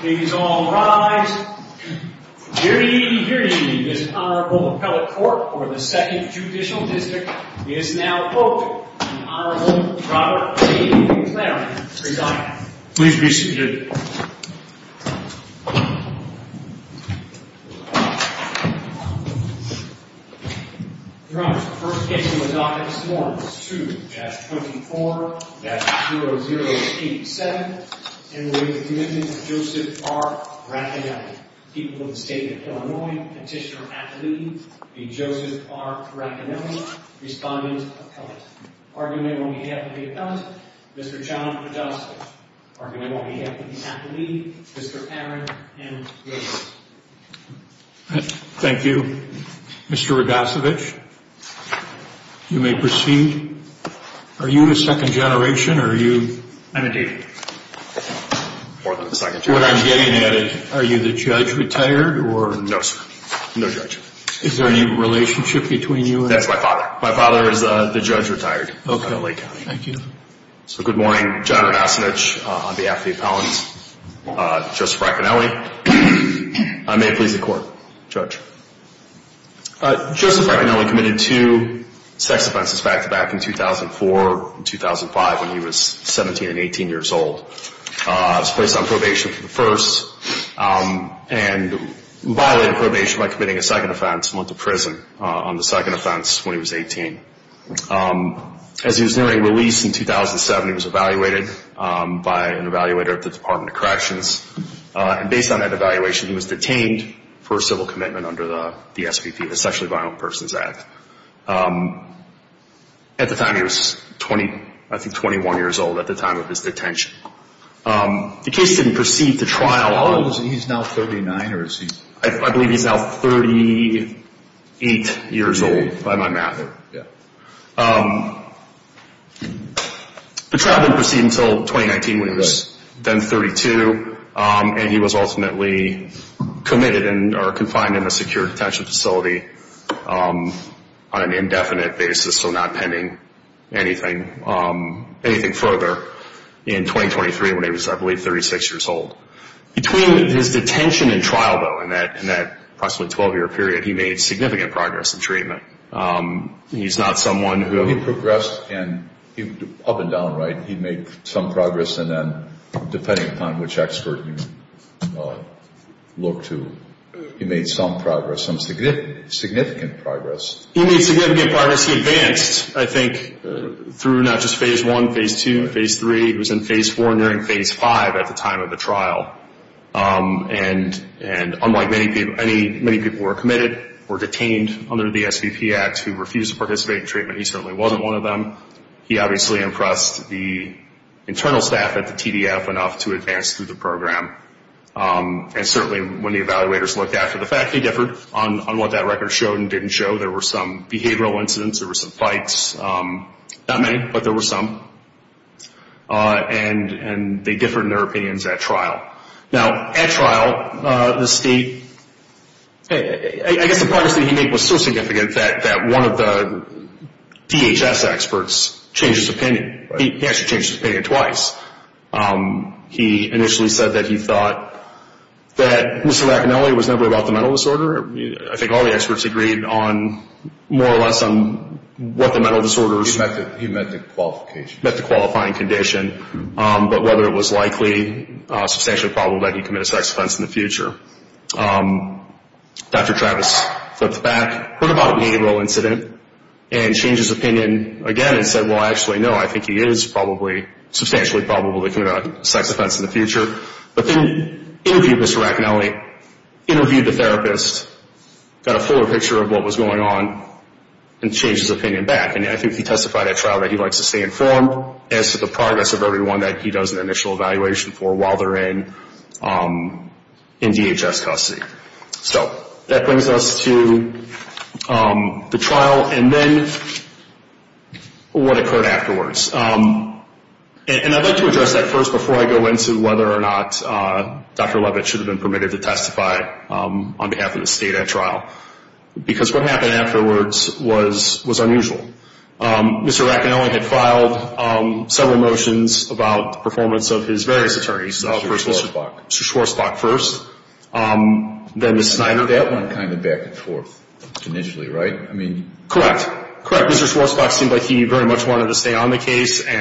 Please all rise. Dearly, dearly, this Honorable Appellate Court for the 2nd Judicial District is now open. The Honorable Robert A. McLaren presiding. Please be seated. Your Honor, the first case in the docket this morning is 2-24-0087. In the name of the Commitment of Joseph R. Racanelli, People of the State of Illinois, Petitioner at Leave, The Joseph R. Racanelli, Respondent, Appellant. Argument on behalf of the Appellant, Mr. John Podesta. Argument on behalf of the Appellant, Mr. Cameron, and the Appellant. Thank you, Mr. Rogasevich. You may proceed. Are you a second generation or are you... I'm a dude. More than a second generation. What I'm getting at is, are you the judge retired or... No, sir. No judge. Is there any relationship between you and... That's my father. My father is the judge retired. Okay. Thank you. Good morning. John Rogasevich on behalf of the Appellant, Joseph R. Racanelli. I may please the court. Joseph R. Racanelli committed two sex offenses back-to-back in 2004 and 2005 when he was 17 and 18 years old. He was placed on probation for the first and violated probation by committing a second offense and went to prison on the second offense when he was 18. As he was nearing release in 2007, he was evaluated by an evaluator at the Department of Corrections. And based on that evaluation, he was detained for civil commitment under the SPP, the Sexually Violent Persons Act. At the time, he was 20, I think 21 years old at the time of his detention. The case didn't proceed to trial. He's now 39 or is he... I believe he's now 38 years old by my math. Yeah. The trial didn't proceed until 2019 when he was then 32, and he was ultimately committed or confined in a secure detention facility on an indefinite basis, so not pending anything further in 2023 when he was, I believe, 36 years old. Between his detention and trial, though, in that approximately 12-year period, he made significant progress in treatment. He's not someone who... He progressed up and down, right? He made some progress, and then depending upon which expert you look to, he made some progress, some significant progress. He made significant progress. He advanced, I think, through not just Phase I, Phase II, and Phase III. He was in Phase IV and during Phase V at the time of the trial. And unlike many people who were committed or detained under the SVP Act who refused to participate in treatment, he certainly wasn't one of them. He obviously impressed the internal staff at the TDF enough to advance through the program. And certainly when the evaluators looked after the fact, they differed on what that record showed and didn't show. There were some behavioral incidents. There were some fights. Not many, but there were some. And they differed in their opinions at trial. Now, at trial, the state... I guess the progress that he made was so significant that one of the DHS experts changed his opinion. He actually changed his opinion twice. He initially said that he thought that Mr. Lacanelli was never about the mental disorder. I think all the experts agreed on more or less on what the mental disorders... He meant the qualification. He meant the qualifying condition, but whether it was likely, substantially probable that he'd commit a sex offense in the future. Dr. Travis flipped back, heard about a behavioral incident, and changed his opinion again and said, well, actually, no, I think he is probably, substantially probable that he'd commit a sex offense in the future. But then interviewed Mr. Lacanelli, interviewed the therapist, got a fuller picture of what was going on, and changed his opinion back. And I think he testified at trial that he likes to stay informed as to the progress of everyone that he does an initial evaluation for while they're in DHS custody. So that brings us to the trial and then what occurred afterwards. And I'd like to address that first before I go into whether or not Dr. Levitt should have been permitted to testify on behalf of the state at trial. Because what happened afterwards was unusual. Mr. Lacanelli had filed several motions about the performance of his various attorneys. Mr. Schwartzbach. Mr. Schwartzbach first, then Ms. Snyder. That went kind of back and forth initially, right? Correct. Correct. Mr. Schwartzbach seemed like he very much wanted to stay on the case. He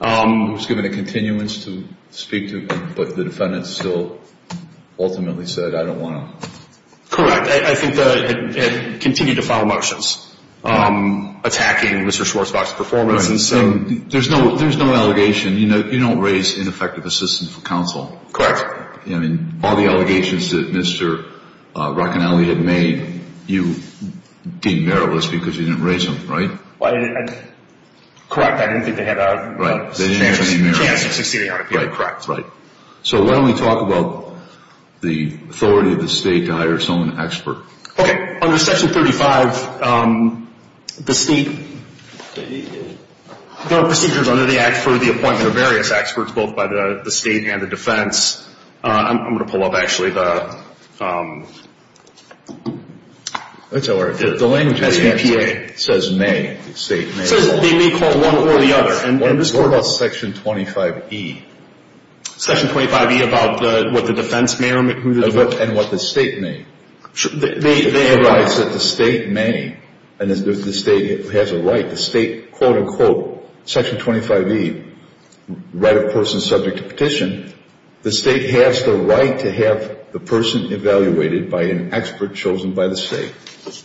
was given a continuance to speak to, but the defendant still ultimately said, I don't want to. Correct. I think it continued to file motions attacking Mr. Schwartzbach's performance. There's no allegation. You don't raise ineffective assistance for counsel. Correct. All the allegations that Mr. Lacanelli had made, you deemed meritless because you didn't raise them, right? Correct. I didn't think they had a chance of succeeding. Correct. So why don't we talk about the authority of the state to hire someone to expert. Okay. Under Section 35, the state, the procedures under the act for the appointment of various experts, both by the state and the defense. I'm going to pull up, actually, the language of the answer. It says may. State may. It says they may call one or the other. What about Section 25E? Section 25E about what the defense may or may not do. And what the state may. They have rights. It provides that the state may. And if the state has a right, the state, quote, unquote, Section 25E, right of person subject to petition, the state has the right to have the person evaluated by an expert chosen by the state.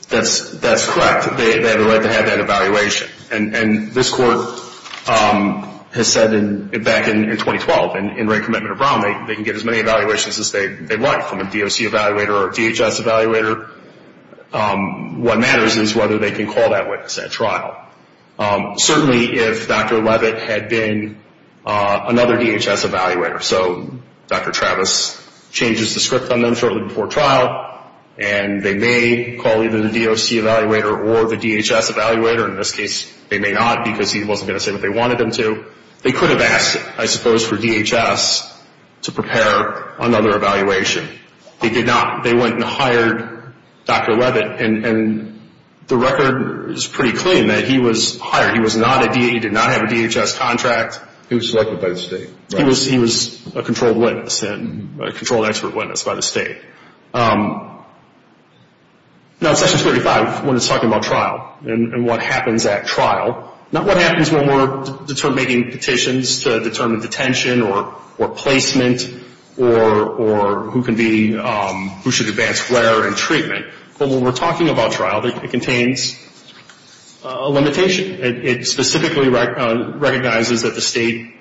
That's correct. They have the right to have that evaluation. And this court has said back in 2012, in rank commitment of Brown, they can get as many evaluations as they want from a DOC evaluator or a DHS evaluator. What matters is whether they can call that witness at trial. Certainly, if Dr. Levitt had been another DHS evaluator, so Dr. Travis changes the script on them shortly before trial, and they may call either the DOC evaluator or the DHS evaluator. In this case, they may not because he wasn't going to say what they wanted him to. They could have asked, I suppose, for DHS to prepare another evaluation. They did not. They went and hired Dr. Levitt, and the record is pretty clean that he was hired. He was not a DA. He did not have a DHS contract. He was selected by the state. He was a controlled witness and a controlled expert witness by the state. Now, in Session 35, when it's talking about trial and what happens at trial, not what happens when we're making petitions to determine detention or placement or who should advance where in treatment, but when we're talking about trial, it contains a limitation. It specifically recognizes that the state,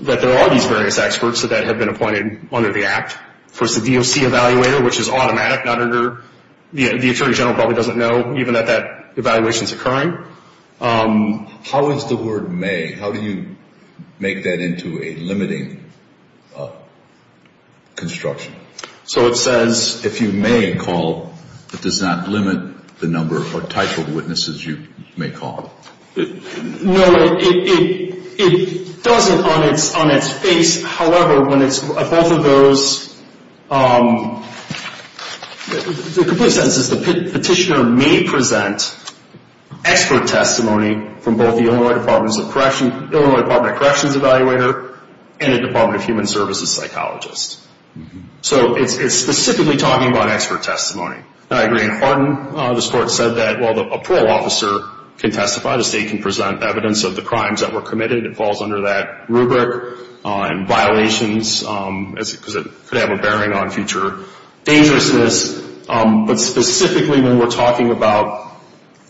that there are these various experts that have been appointed under the Act. Of course, the DOC evaluator, which is automatic, the attorney general probably doesn't know even that that evaluation is occurring. How is the word may, how do you make that into a limiting construction? So it says, if you may call, it does not limit the number or type of witnesses you may call. No, it doesn't on its face. However, when it's both of those, the complete sentence is the petitioner may present expert testimony from both the Illinois Department of Corrections evaluator and a Department of Human Services psychologist. So it's specifically talking about expert testimony. Now, I agree. In Hardin, the court said that while a parole officer can testify, the state can present evidence of the crimes that were committed. It falls under that rubric. And violations, because it could have a bearing on future dangerousness. But specifically when we're talking about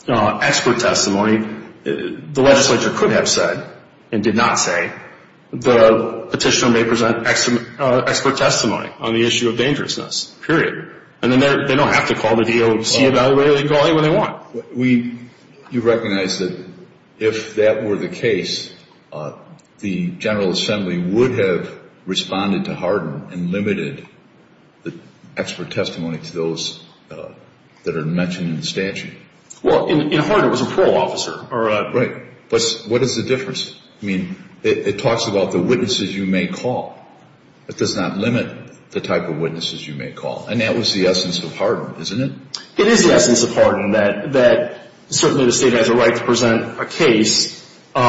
expert testimony, the legislature could have said, and did not say, the petitioner may present expert testimony on the issue of dangerousness, period. And then they don't have to call the DOC evaluator. They can call anyone they want. You recognize that if that were the case, the General Assembly would have responded to Hardin and limited the expert testimony to those that are mentioned in the statute. Well, in Hardin, it was a parole officer. Right. But what is the difference? I mean, it talks about the witnesses you may call. It does not limit the type of witnesses you may call. And that was the essence of Hardin, isn't it? It is the essence of Hardin, that certainly the state has a right to present a case. But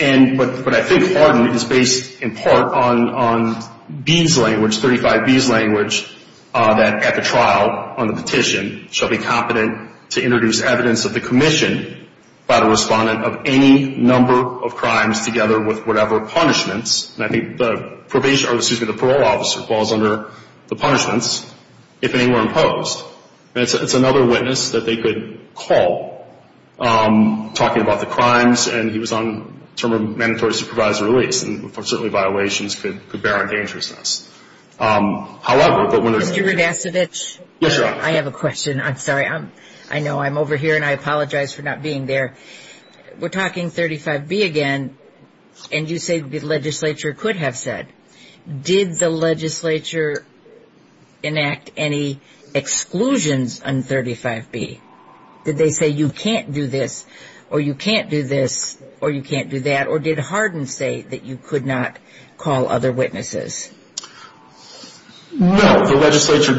I think Hardin is based in part on Bean's language, 35B's language, that at the trial on the petition, shall be competent to introduce evidence of the commission by the respondent of any number of crimes together with whatever punishments. And I think the parole officer falls under the punishments if any were imposed. And it's another witness that they could call talking about the crimes, and he was on term of mandatory supervisory release. And certainly violations could bear on dangerousness. However, but when there's a Mr. Rudacevich? Yes, Your Honor. I have a question. I'm sorry. I know I'm over here, and I apologize for not being there. We're talking 35B again, and you say the legislature could have said. Did the legislature enact any exclusions on 35B? Did they say you can't do this, or you can't do this, or you can't do that? Or did Hardin say that you could not call other witnesses? No, the legislature,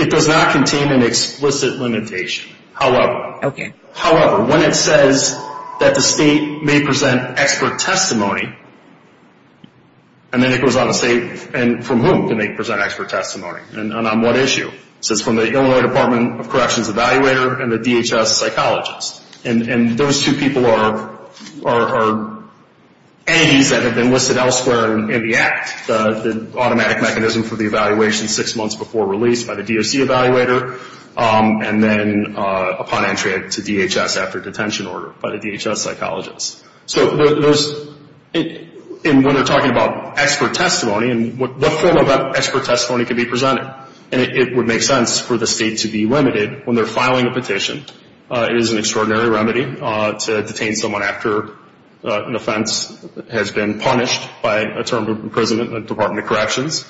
it does not contain an explicit limitation. Okay. However, when it says that the state may present expert testimony, and then it goes on to say from whom can they present expert testimony, and on what issue. It says from the Illinois Department of Corrections evaluator and the DHS psychologist. And those two people are A's that have been listed elsewhere in the act, the automatic mechanism for the evaluation six months before release by the DOC evaluator, and then upon entry to DHS after detention order by the DHS psychologist. So when they're talking about expert testimony, what form of expert testimony can be presented? And it would make sense for the state to be limited when they're filing a petition. It is an extraordinary remedy to detain someone after an offense has been punished by a term of imprisonment in the Department of Corrections.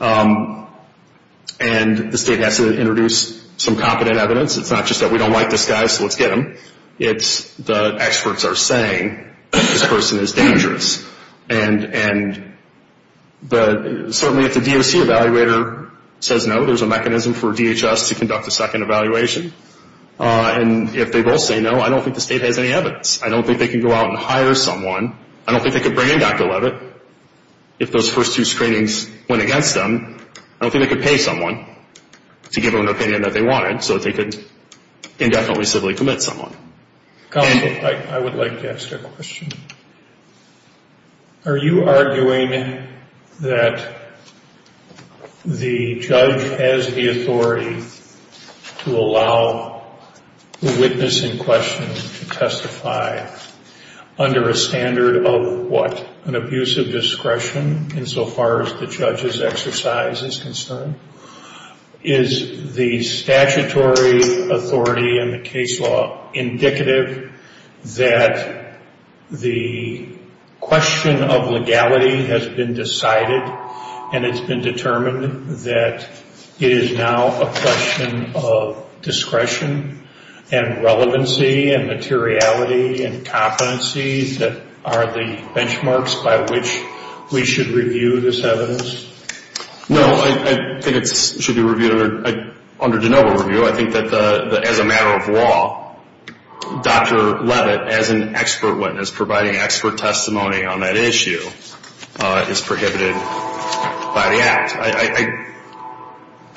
And the state has to introduce some competent evidence. It's not just that we don't like this guy, so let's get him. It's the experts are saying this person is dangerous. And certainly if the DOC evaluator says no, there's a mechanism for DHS to conduct a second evaluation. And if they both say no, I don't think the state has any evidence. I don't think they can go out and hire someone. I don't think they could bring in Dr. Levitt if those first two screenings went against them. I don't think they could pay someone to give them an opinion that they wanted, so they could indefinitely civilly commit someone. Counsel, I would like to ask a question. Are you arguing that the judge has the authority to allow the witness in question to testify under a standard of what? An abuse of discretion insofar as the judge's exercise is concerned? Is the statutory authority in the case law indicative that the question of legality has been decided and it's been determined that it is now a question of discretion and relevancy and materiality and competencies that are the benchmarks by which we should review this evidence? No, I think it should be reviewed under de novo review. I think that as a matter of law, Dr. Levitt, as an expert witness providing expert testimony on that issue, is prohibited by the act.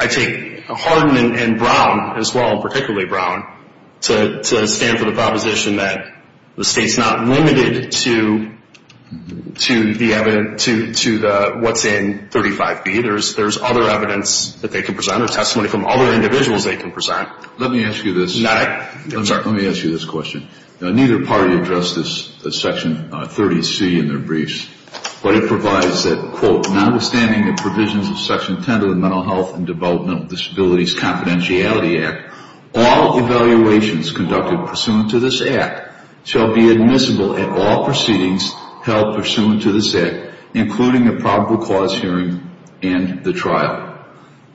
I take Hardin and Brown as well, particularly Brown, to stand for the proposition that the state's not limited to what's in 35B. There's other evidence that they can present or testimony from other individuals they can present. Let me ask you this question. Neither party addressed this in Section 30C in their briefs, but it provides that, quote, notwithstanding the provisions of Section 10 of the Mental Health and Developmental Disabilities Confidentiality Act, all evaluations conducted pursuant to this act shall be admissible at all proceedings held pursuant to this act, including a probable cause hearing and the trial.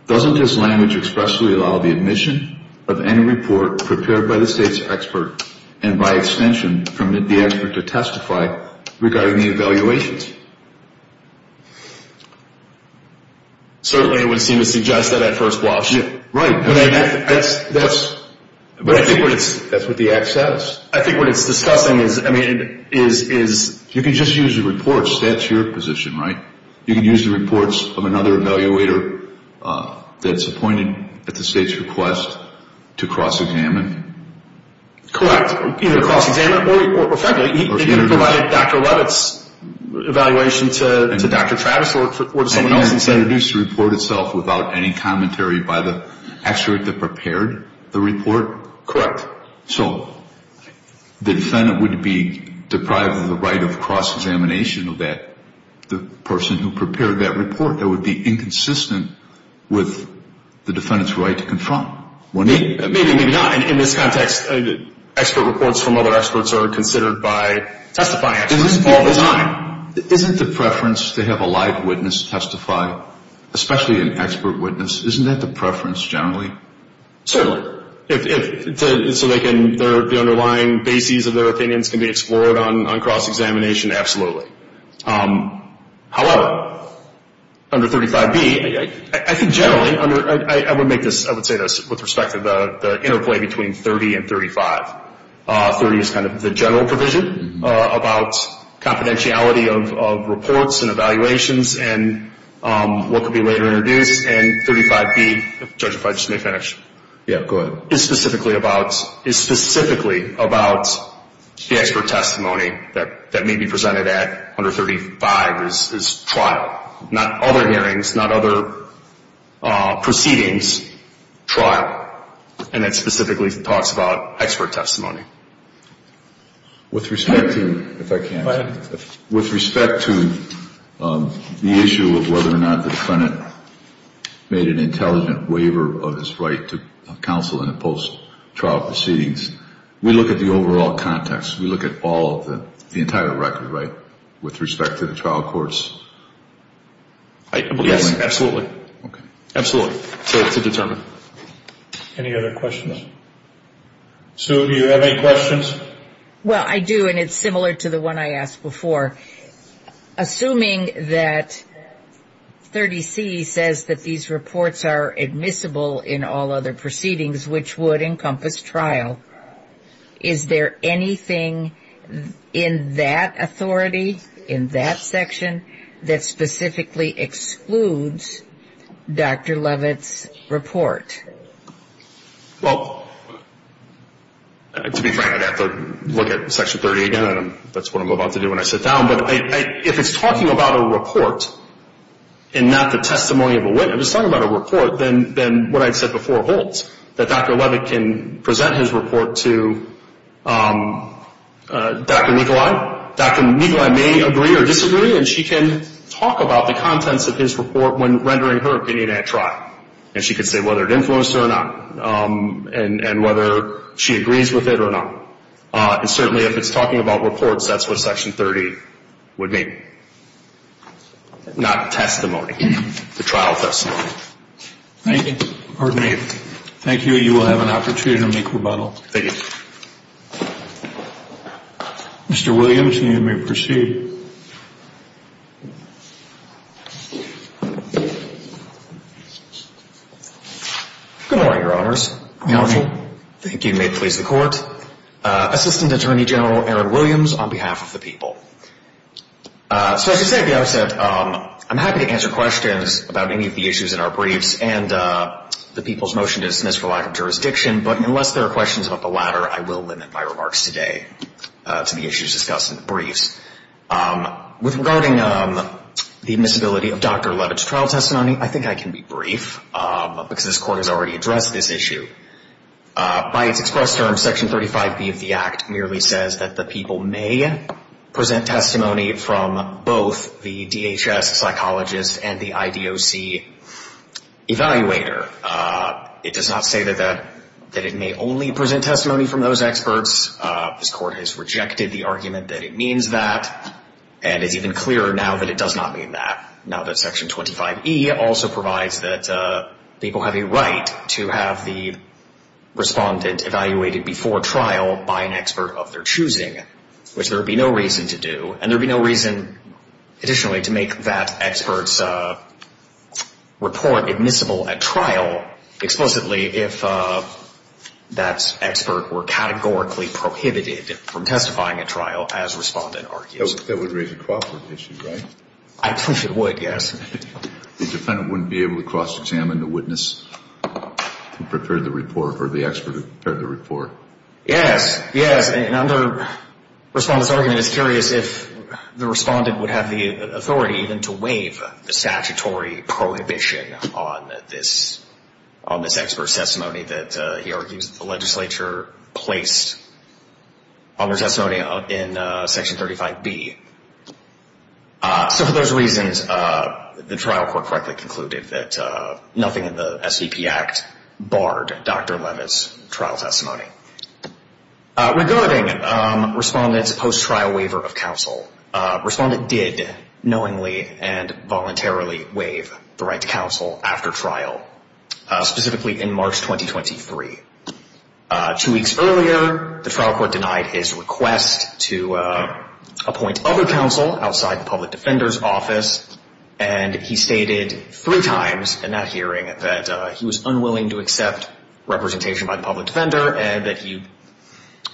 Doesn't this language expressly allow the admission of any report prepared by the state's expert and, by extension, permit the expert to testify regarding the evaluations? Certainly, it would seem to suggest that at first blush. Right. That's what the act says. I think what it's discussing is, I mean, is... You can just use the reports. That's your position, right? You can use the reports of another evaluator that's appointed at the state's request to cross-examine? Correct. Either cross-examine or, frankly, He could have provided Dr. Levitt's evaluation to Dr. Travis or to someone else and said... And introduced the report itself without any commentary by the expert that prepared the report? Correct. So the defendant would be deprived of the right of cross-examination of the person who prepared that report? That would be inconsistent with the defendant's right to confront? Maybe, maybe not. In this context, expert reports from other experts are considered by testifying experts all the time. Isn't the preference to have a live witness testify, especially an expert witness, isn't that the preference generally? So the underlying bases of their opinions can be explored on cross-examination? However, under 35B, I think generally, I would make this... I would say this with respect to the interplay between 30 and 35. 30 is kind of the general provision about confidentiality of reports and evaluations and what could be later introduced. And 35B... Judge, if I just may finish. Yeah, go ahead. ...is specifically about the expert testimony that may be presented at under 35 is trial. Not other hearings, not other proceedings, trial. And that specifically talks about expert testimony. With respect to... If I can... We look at the overall context. We look at all of the... The entire record, right, with respect to the trial courts? Yes, absolutely. Okay. Absolutely. So it's a determined... Any other questions? Sue, do you have any questions? Well, I do, and it's similar to the one I asked before. Assuming that 30C says that these reports are admissible in all other proceedings, which would encompass trial, is there anything in that authority, in that section, that specifically excludes Dr. Levitt's report? Well, to be frank, I'd have to look at Section 30 again. That's what I'm about to do when I sit down. But if it's talking about a report and not the testimony of a witness, if it's talking about a report, then what I said before holds, that Dr. Levitt can present his report to Dr. Nikolai. Dr. Nikolai may agree or disagree, and she can talk about the contents of his report when rendering her opinion at trial. And she can say whether it influenced her or not and whether she agrees with it or not. And certainly if it's talking about reports, that's what Section 30 would mean, not testimony, the trial testimony. Thank you. Pardon me. Thank you. You will have an opportunity to make rebuttal. Thank you. Mr. Williams, you may proceed. Good morning, Your Honors. Good morning. Thank you. And may it please the Court, Assistant Attorney General Aaron Williams on behalf of the people. So as I said at the outset, I'm happy to answer questions about any of the issues in our briefs and the people's motion to dismiss for lack of jurisdiction. But unless there are questions about the latter, I will limit my remarks today to the issues discussed in the briefs. With regarding the admissibility of Dr. Levitt's trial testimony, I think I can be brief because this Court has already addressed this issue. By its express term, Section 35B of the Act merely says that the people may present testimony from both the DHS psychologist and the IDOC evaluator. It does not say that it may only present testimony from those experts. This Court has rejected the argument that it means that and it's even clearer now that it does not mean that. Now that Section 25E also provides that people have a right to have the respondent evaluated before trial by an expert of their choosing, which there would be no reason to do. And there would be no reason additionally to make that expert's report admissible at trial explicitly if that expert were categorically prohibited from testifying at trial, as respondent argues. That would raise a cooperative issue, right? I believe it would, yes. The defendant wouldn't be able to cross-examine the witness who prepared the report or the expert who prepared the report. Yes, yes. And under respondent's argument, it's curious if the respondent would have the authority even to waive the statutory prohibition on this expert's testimony that he argues the legislature placed on their testimony in Section 35B. So for those reasons, the trial court correctly concluded that nothing in the SVP Act barred Dr. Levitt's trial testimony. Regarding respondent's post-trial waiver of counsel, respondent did knowingly and voluntarily waive the right to counsel after trial, specifically in March 2023. Two weeks earlier, the trial court denied his request to appoint other counsel outside the public defender's office, and he stated three times in that hearing that he was unwilling to accept representation by the public defender and that he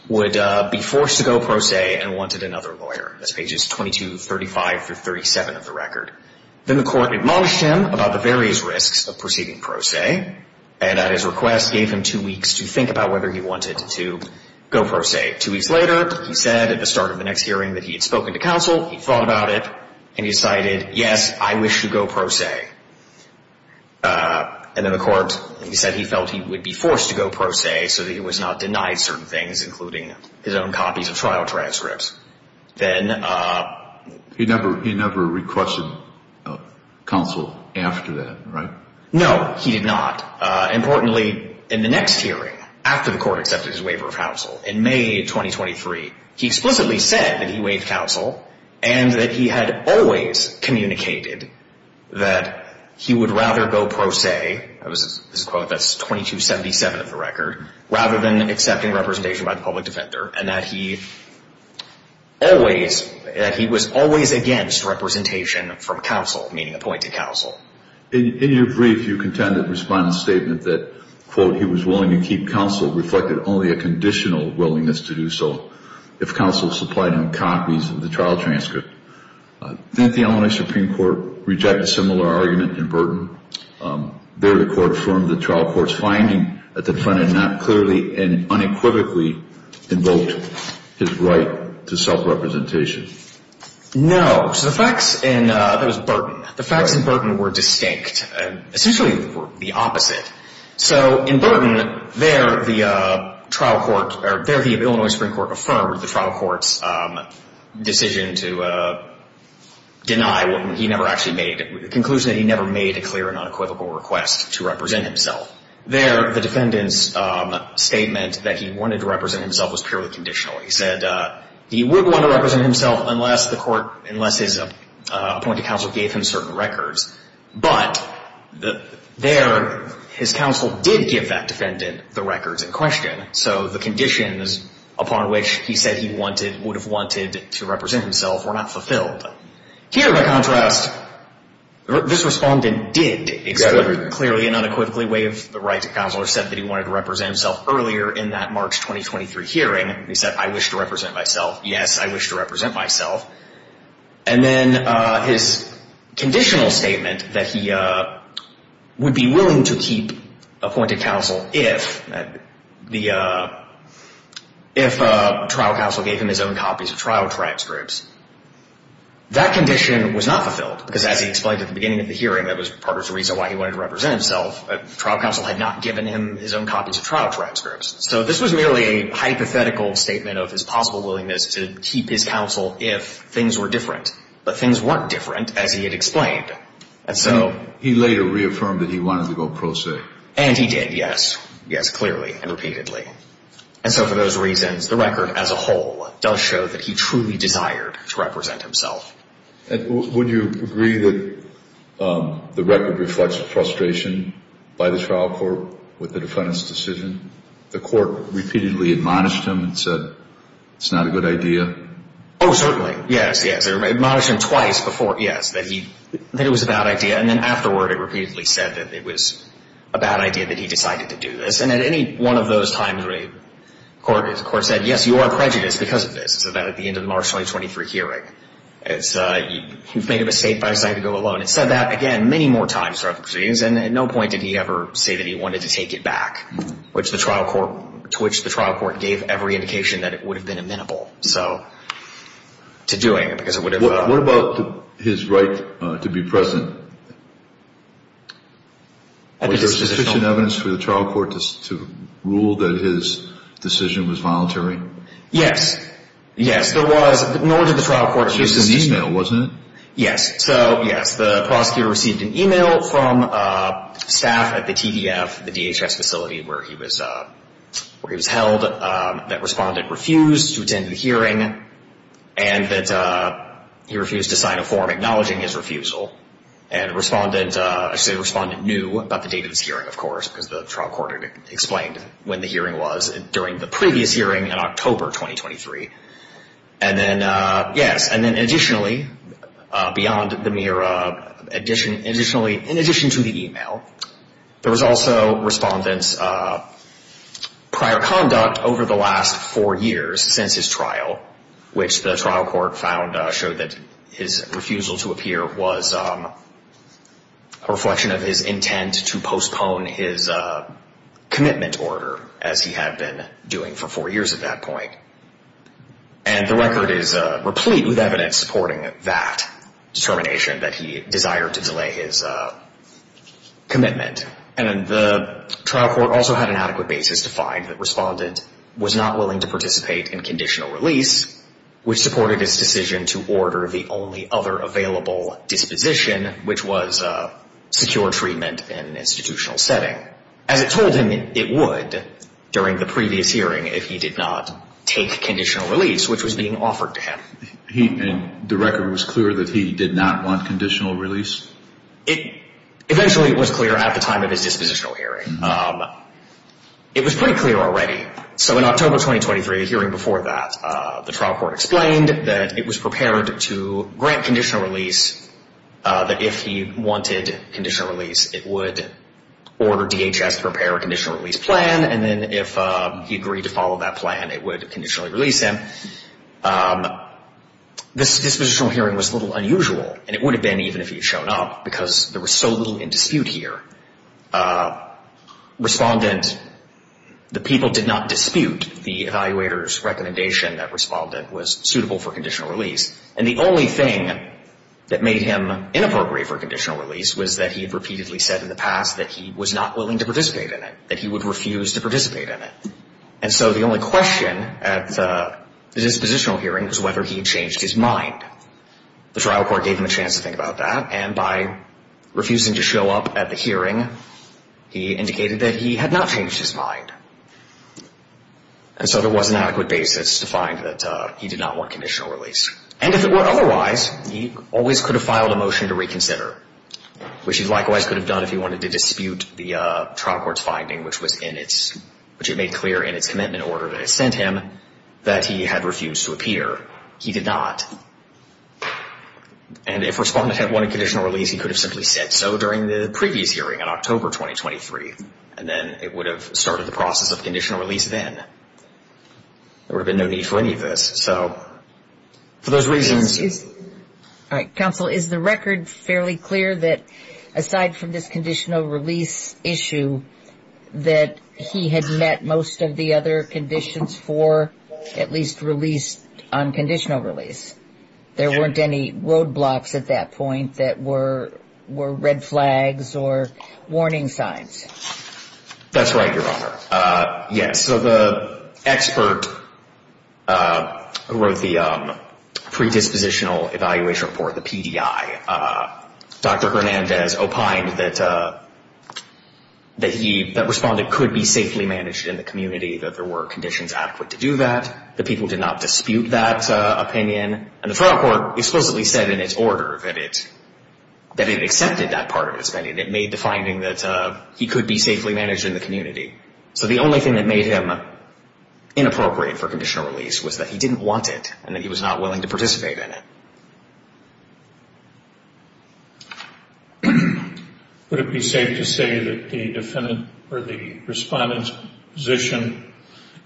would be forced to go pro se and wanted another lawyer. That's pages 22, 35, through 37 of the record. Then the court admonished him about the various risks of proceeding pro se and at his request gave him two weeks to think about whether he wanted to go pro se. Two weeks later, he said at the start of the next hearing that he had spoken to counsel, he thought about it, and he decided, yes, I wish to go pro se. And then the court said he felt he would be forced to go pro se so that he was not denied certain things, including his own copies of trial transcripts. Then... He never requested counsel after that, right? No, he did not. Importantly, in the next hearing, after the court accepted his waiver of counsel, in May 2023, he explicitly said that he waived counsel and that he had always communicated that he would rather go pro se, this is a quote that's 22, 77 of the record, rather than accepting representation by the public defender, and that he always, that he was always against representation from counsel, meaning appointed counsel. In your brief, you contend that Respondent's statement that, quote, he was willing to keep counsel reflected only a conditional willingness to do so if counsel supplied him copies of the trial transcript. Didn't the Illinois Supreme Court reject a similar argument in Burton? There, the court affirmed the trial court's finding that the defendant not clearly and unequivocally invoked his right to self-representation. No. So the facts in, that was Burton, the facts in Burton were distinct, essentially the opposite. So in Burton, there the trial court, there the Illinois Supreme Court affirmed the trial court's decision to deny, he never actually made, the conclusion that he never made a clear and unequivocal request to represent himself. There, the defendant's statement that he wanted to represent himself was purely conditional. He said he wouldn't want to represent himself unless the court, unless his appointed counsel gave him certain records. But there, his counsel did give that defendant the records in question. So the conditions upon which he said he wanted, would have wanted to represent himself were not fulfilled. Here, by contrast, this Respondent did clearly and unequivocally waive the right to counsel or said that he wanted to represent himself earlier in that March 2023 hearing. He said, I wish to represent myself. Yes, I wish to represent myself. And then his conditional statement that he would be willing to keep appointed counsel if the, if trial counsel gave him his own copies of trial transcripts. That condition was not fulfilled because as he explained at the beginning of the hearing, that was part of the reason why he wanted to represent himself. Trial counsel had not given him his own copies of trial transcripts. So this was merely a hypothetical statement of his possible willingness to keep his counsel if things were different. But things weren't different as he had explained. So he later reaffirmed that he wanted to go pro se. And he did, yes. Yes, clearly and repeatedly. And so for those reasons, the record as a whole does show that he truly desired to represent himself. And would you agree that the record reflects the frustration by the trial court with the defendant's decision? The court repeatedly admonished him and said, it's not a good idea. Oh, certainly. Yes, yes. They admonished him twice before, yes, that he, that it was a bad idea. And then afterward, it repeatedly said that it was a bad idea that he decided to do this. And at any one of those times, the court said, yes, you are prejudiced because of this. So that at the end of the March 2023 hearing, you've made a mistake by deciding to go alone. It said that, again, many more times throughout the proceedings. And at no point did he ever say that he wanted to take it back, which the trial court, to which the trial court gave every indication that it would have been amenable. So to doing it because it would have. What about his right to be present? Was there sufficient evidence for the trial court to rule that his decision was voluntary? Yes. Yes, there was. Nor did the trial court. It was just an e-mail, wasn't it? Yes. So, yes, the prosecutor received an e-mail from staff at the TDF, the DHS facility where he was held, that respondent refused to attend the hearing and that he refused to sign a form acknowledging his refusal. And the respondent knew about the date of this hearing, of course, because the trial court had explained when the hearing was during the previous hearing in October 2023. And then, yes, and then additionally, beyond the mere addition, additionally, in addition to the e-mail, there was also respondent's prior conduct over the last four years since his trial, which the trial court found, showed that his refusal to appear was a reflection of his intent to postpone his commitment order, as he had been doing for four years at that point. And the record is replete with evidence supporting that determination, that he desired to delay his commitment. And the trial court also had an adequate basis to find that respondent was not willing to participate in conditional release, which supported his decision to order the only other available disposition, which was secure treatment in an institutional setting. As it told him it would during the previous hearing if he did not take conditional release, which was being offered to him. And the record was clear that he did not want conditional release? Eventually, it was clear at the time of his dispositional hearing. It was pretty clear already. So in October 2023, the hearing before that, the trial court explained that it was prepared to grant conditional release that if he wanted conditional release, it would order DHS to prepare a conditional release plan. And then if he agreed to follow that plan, it would conditionally release him. This dispositional hearing was a little unusual, and it would have been even if he had shown up, because there was so little in dispute here. Respondent, the people did not dispute the evaluator's recommendation that respondent was suitable for conditional release. And the only thing that made him inappropriate for conditional release was that he had repeatedly said in the past that he was not willing to participate in it, that he would refuse to participate in it. And so the only question at the dispositional hearing was whether he had changed his mind. The trial court gave him a chance to think about that. And by refusing to show up at the hearing, he indicated that he had not changed his mind. And so there was an adequate basis to find that he did not want conditional release. And if it were otherwise, he always could have filed a motion to reconsider, which he likewise could have done if he wanted to dispute the trial court's finding, which it made clear in its commitment order that it sent him that he had refused to appear. He did not. And if respondent had wanted conditional release, he could have simply said so during the previous hearing in October 2023, and then it would have started the process of conditional release then. There would have been no need for any of this. So for those reasons – Excuse me. All right. Counsel, is the record fairly clear that aside from this conditional release issue, that he had met most of the other conditions for at least release on conditional release? There weren't any roadblocks at that point that were red flags or warning signs? That's right, Your Honor. Yes. So the expert who wrote the predispositional evaluation report, the PDI, Dr. Hernandez opined that that respondent could be safely managed in the community, that there were conditions adequate to do that. The people did not dispute that opinion. And the trial court explicitly said in its order that it accepted that part of its opinion. It made the finding that he could be safely managed in the community. So the only thing that made him inappropriate for conditional release was that he didn't want it and that he was not willing to participate in it. Would it be safe to say that the defendant or the respondent's position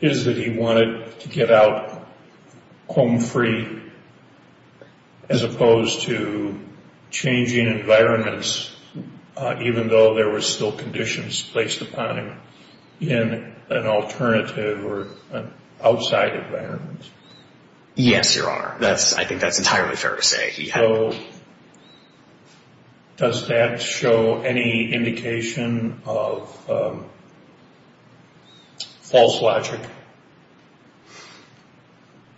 is that he wanted to get out home free as opposed to changing environments, even though there were still conditions placed upon him in an alternative or outside environment? Yes, Your Honor. I think that's entirely fair to say. So does that show any indication of false logic?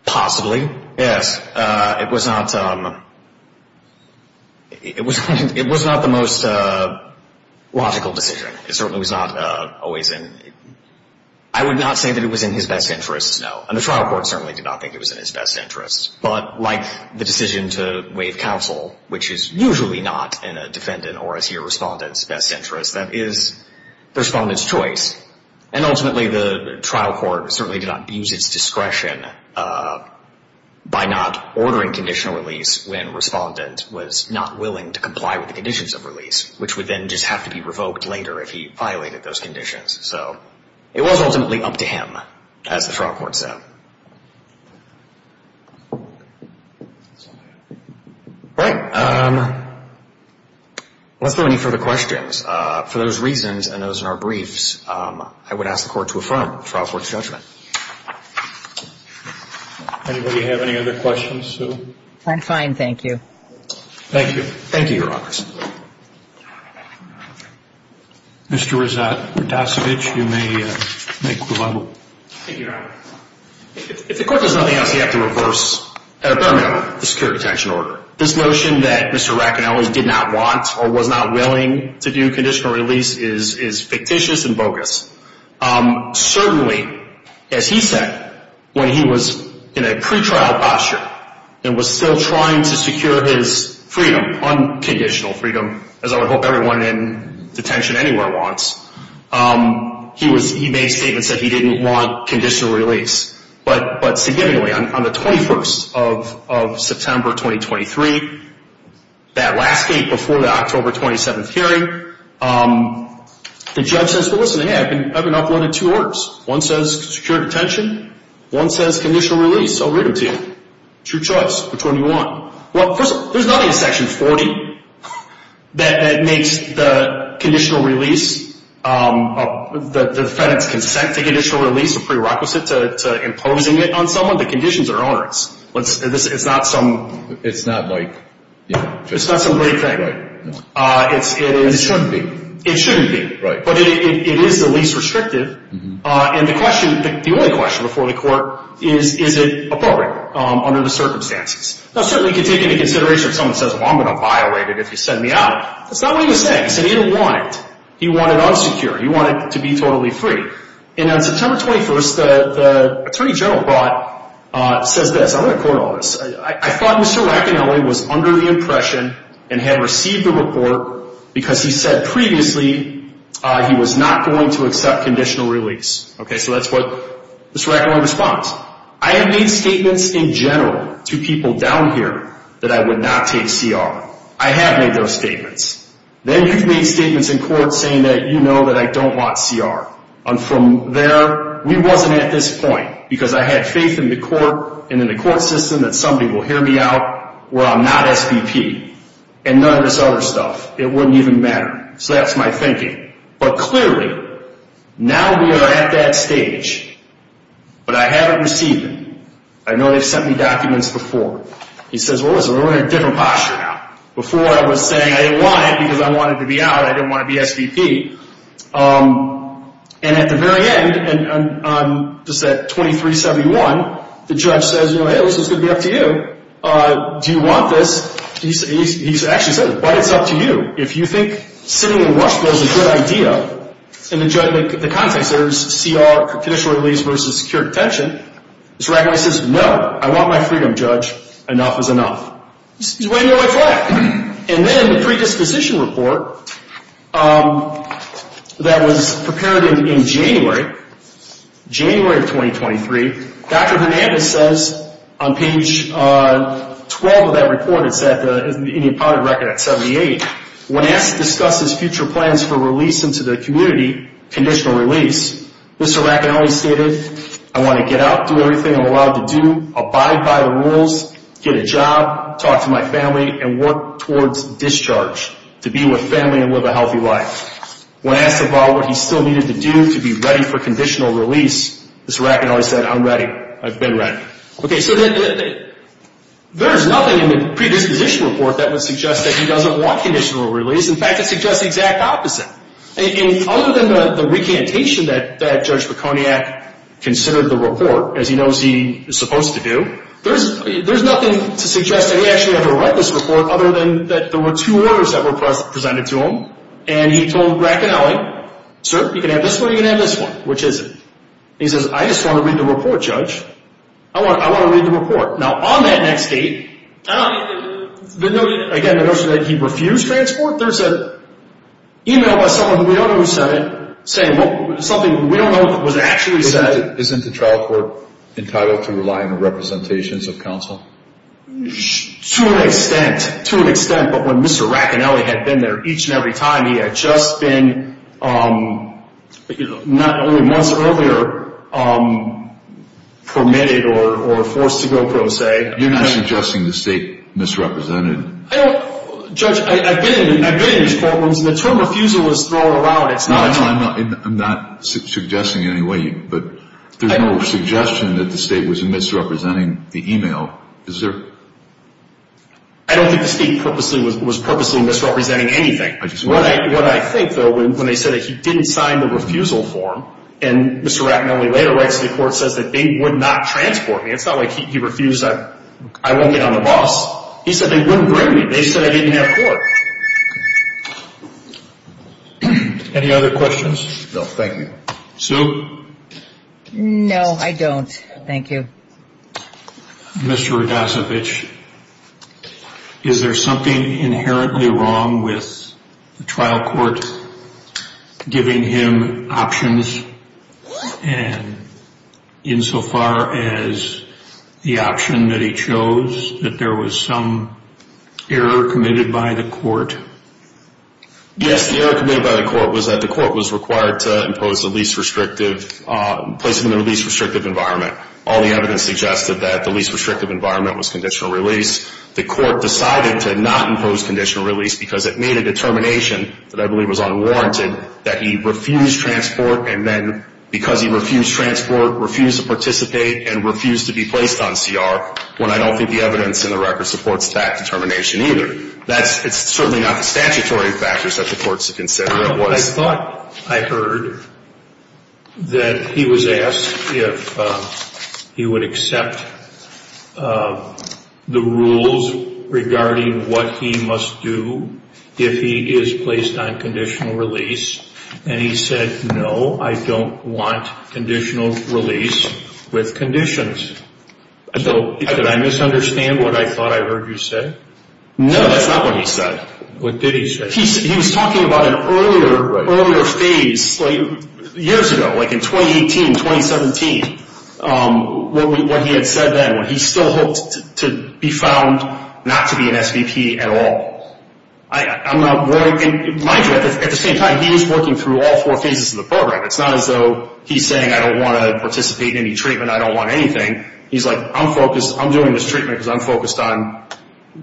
Possibly, yes. It was not the most logical decision. It certainly was not always in his best interest, no. And the trial court certainly did not think it was in his best interest. But like the decision to waive counsel, which is usually not in a defendant or a CR respondent's best interest, that is the respondent's choice. And ultimately, the trial court certainly did not use its discretion by not ordering conditional release when respondent was not willing to comply with the conditions of release, which would then just have to be revoked later if he violated those conditions. So it was ultimately up to him, as the trial court said. All right. Unless there are any further questions, for those reasons and those in our briefs, I would ask the Court to affirm the trial court's judgment. Anybody have any other questions? I'm fine, thank you. Thank you. Thank you, Your Honors. Mr. Ratasevich, you may make your rebuttal. Thank you, Your Honor. If the Court does nothing else, you have to reverse, at a better manner, the secure detention order. This notion that Mr. Racanelli did not want or was not willing to do conditional release is fictitious and bogus. Certainly, as he said, when he was in a pretrial posture and was still trying to secure his freedom, unconditional freedom, as I would hope everyone in detention anywhere wants, he made statements that he didn't want conditional release. But significantly, on the 21st of September, 2023, that last date before the October 27th hearing, the judge says, well, listen, I've been uploaded two orders. One says secure detention. One says conditional release. I'll read them to you. It's your choice. Which one do you want? Well, first of all, there's nothing in Section 40 that makes the conditional release, the defense consent to conditional release a prerequisite to imposing it on someone. The conditions are ours. It's not some great thing. It shouldn't be. It shouldn't be. Right. But it is the least restrictive. And the question, the only question before the court is, is it appropriate under the circumstances? Now, certainly you can take into consideration if someone says, well, I'm going to violate it if you send me out. That's not what he was saying. He said he didn't want it. He wanted unsecure. He wanted to be totally free. And on September 21st, the attorney general brought, says this. I'm going to quote all this. I thought Mr. Racanelli was under the impression and had received the report because he said previously he was not going to accept conditional release. Okay, so that's what Mr. Racanelli responds. I have made statements in general to people down here that I would not take CR. I have made those statements. Then you've made statements in court saying that you know that I don't want CR. And from there, we wasn't at this point because I had faith in the court and in the court system that somebody will hear me out where I'm not SBP. And none of this other stuff. It wouldn't even matter. So that's my thinking. But clearly, now we are at that stage. But I haven't received it. I know they've sent me documents before. He says, well, listen, we're in a different posture now. Before I was saying I didn't want it because I wanted to be out. I didn't want to be SBP. And at the very end, just at 2371, the judge says, you know, hey, this is going to be up to you. Do you want this? He actually says, but it's up to you. If you think sitting in Rush Bill is a good idea, and the judge makes the context, there's CR, conditional release versus secure detention. He says, no, I want my freedom, Judge. Enough is enough. He's way near my flag. And then the predisposition report that was prepared in January, January of 2023, Dr. Hernandez says on page 12 of that report, it's in the impounded record at 78, when asked to discuss his future plans for release into the community, conditional release, Mr. Racanelli stated, I want to get out, do everything I'm allowed to do, abide by the rules, get a job, talk to my family, and work towards discharge to be with family and live a healthy life. When asked about what he still needed to do to be ready for conditional release, Mr. Racanelli said, I'm ready. I've been ready. Okay, so there's nothing in the predisposition report that would suggest that he doesn't want conditional release. In fact, it suggests the exact opposite. And other than the recantation that Judge Baconiak considered the report, as he knows he is supposed to do, there's nothing to suggest that he actually had to write this report other than that there were two orders that were presented to him, and he told Racanelli, sir, you can have this one or you can have this one. Which is it? He says, I just want to read the report, Judge. I want to read the report. Now, on that next date, again, the notion that he refused transport, there's an email by someone we don't know who said it saying something we don't know was actually said. Isn't the trial court entitled to relying on representations of counsel? To an extent. To an extent. But when Mr. Racanelli had been there each and every time, he had just been not only months earlier permitted or forced to go pro se. You're not suggesting the state misrepresented? Judge, I've been in these courtrooms, and the term refusal is thrown around. I'm not suggesting in any way, but there's no suggestion that the state was misrepresenting the email. Is there? I don't think the state was purposely misrepresenting anything. What I think, though, when they said that he didn't sign the refusal form, and Mr. Racanelli later writes to the court, says that they would not transport me. It's not like he refused, I won't get on the bus. He said they wouldn't bring me. They said I didn't have court. Any other questions? No, thank you. Sue? No, I don't. Thank you. Mr. Radacevic, is there something inherently wrong with the trial court giving him options and insofar as the option that he chose, that there was some error committed by the court? Yes, the error committed by the court was that the court was required to impose the least restrictive, placing them in the least restrictive environment. All the evidence suggested that the least restrictive environment was conditional release. The court decided to not impose conditional release because it made a determination that I believe was unwarranted that he refused transport, and then because he refused transport, refused to participate, and refused to be placed on CR, when I don't think the evidence in the record supports that determination either. It's certainly not the statutory factors that the court should consider. I thought I heard that he was asked if he would accept the rules regarding what he must do if he is placed on conditional release, and he said, no, I don't want conditional release with conditions. Did I misunderstand what I thought I heard you say? No, that's not what he said. What did he say? He was talking about an earlier phase, years ago, like in 2018, 2017, what he had said then, when he still hoped to be found not to be an SVP at all. Mind you, at the same time, he was working through all four phases of the program. It's not as though he's saying, I don't want to participate in any treatment, I don't want anything. He's like, I'm doing this treatment because I'm focused on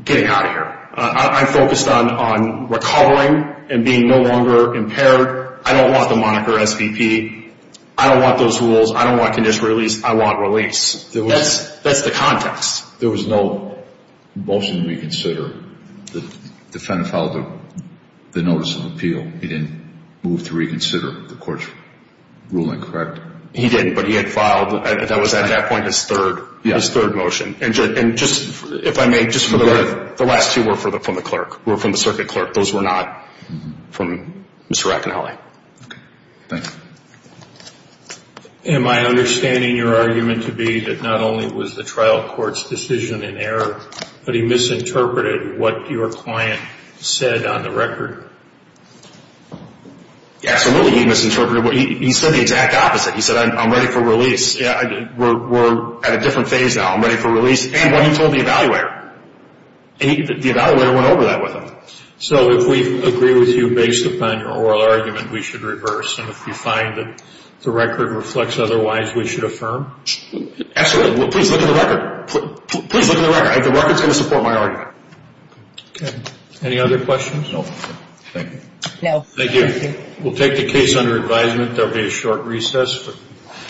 getting out of here. I'm focused on recovering and being no longer impaired. I don't want the moniker SVP. I don't want those rules. I don't want conditional release. I want release. That's the context. There was no motion to reconsider. The defendant filed the notice of appeal. He didn't move to reconsider the court's ruling, correct? He didn't, but he had filed, that was at that point, his third motion. If I may, just for the record, the last two were from the clerk, were from the circuit clerk. Those were not from Mr. Racanelli. Thanks. Am I understanding your argument to be that not only was the trial court's decision in error, but he misinterpreted what your client said on the record? Absolutely, he misinterpreted. He said the exact opposite. He said, I'm ready for release. Yeah, I did. We're at a different phase now. I'm ready for release. And when you told the evaluator, the evaluator went over that with him. So if we agree with you based upon your oral argument, we should reverse. And if you find that the record reflects otherwise, we should affirm? Absolutely. Please look at the record. Please look at the record. The record's going to support my argument. Okay. Any other questions? Thank you. Thank you. We'll take the case under advisement. There will be a short recess.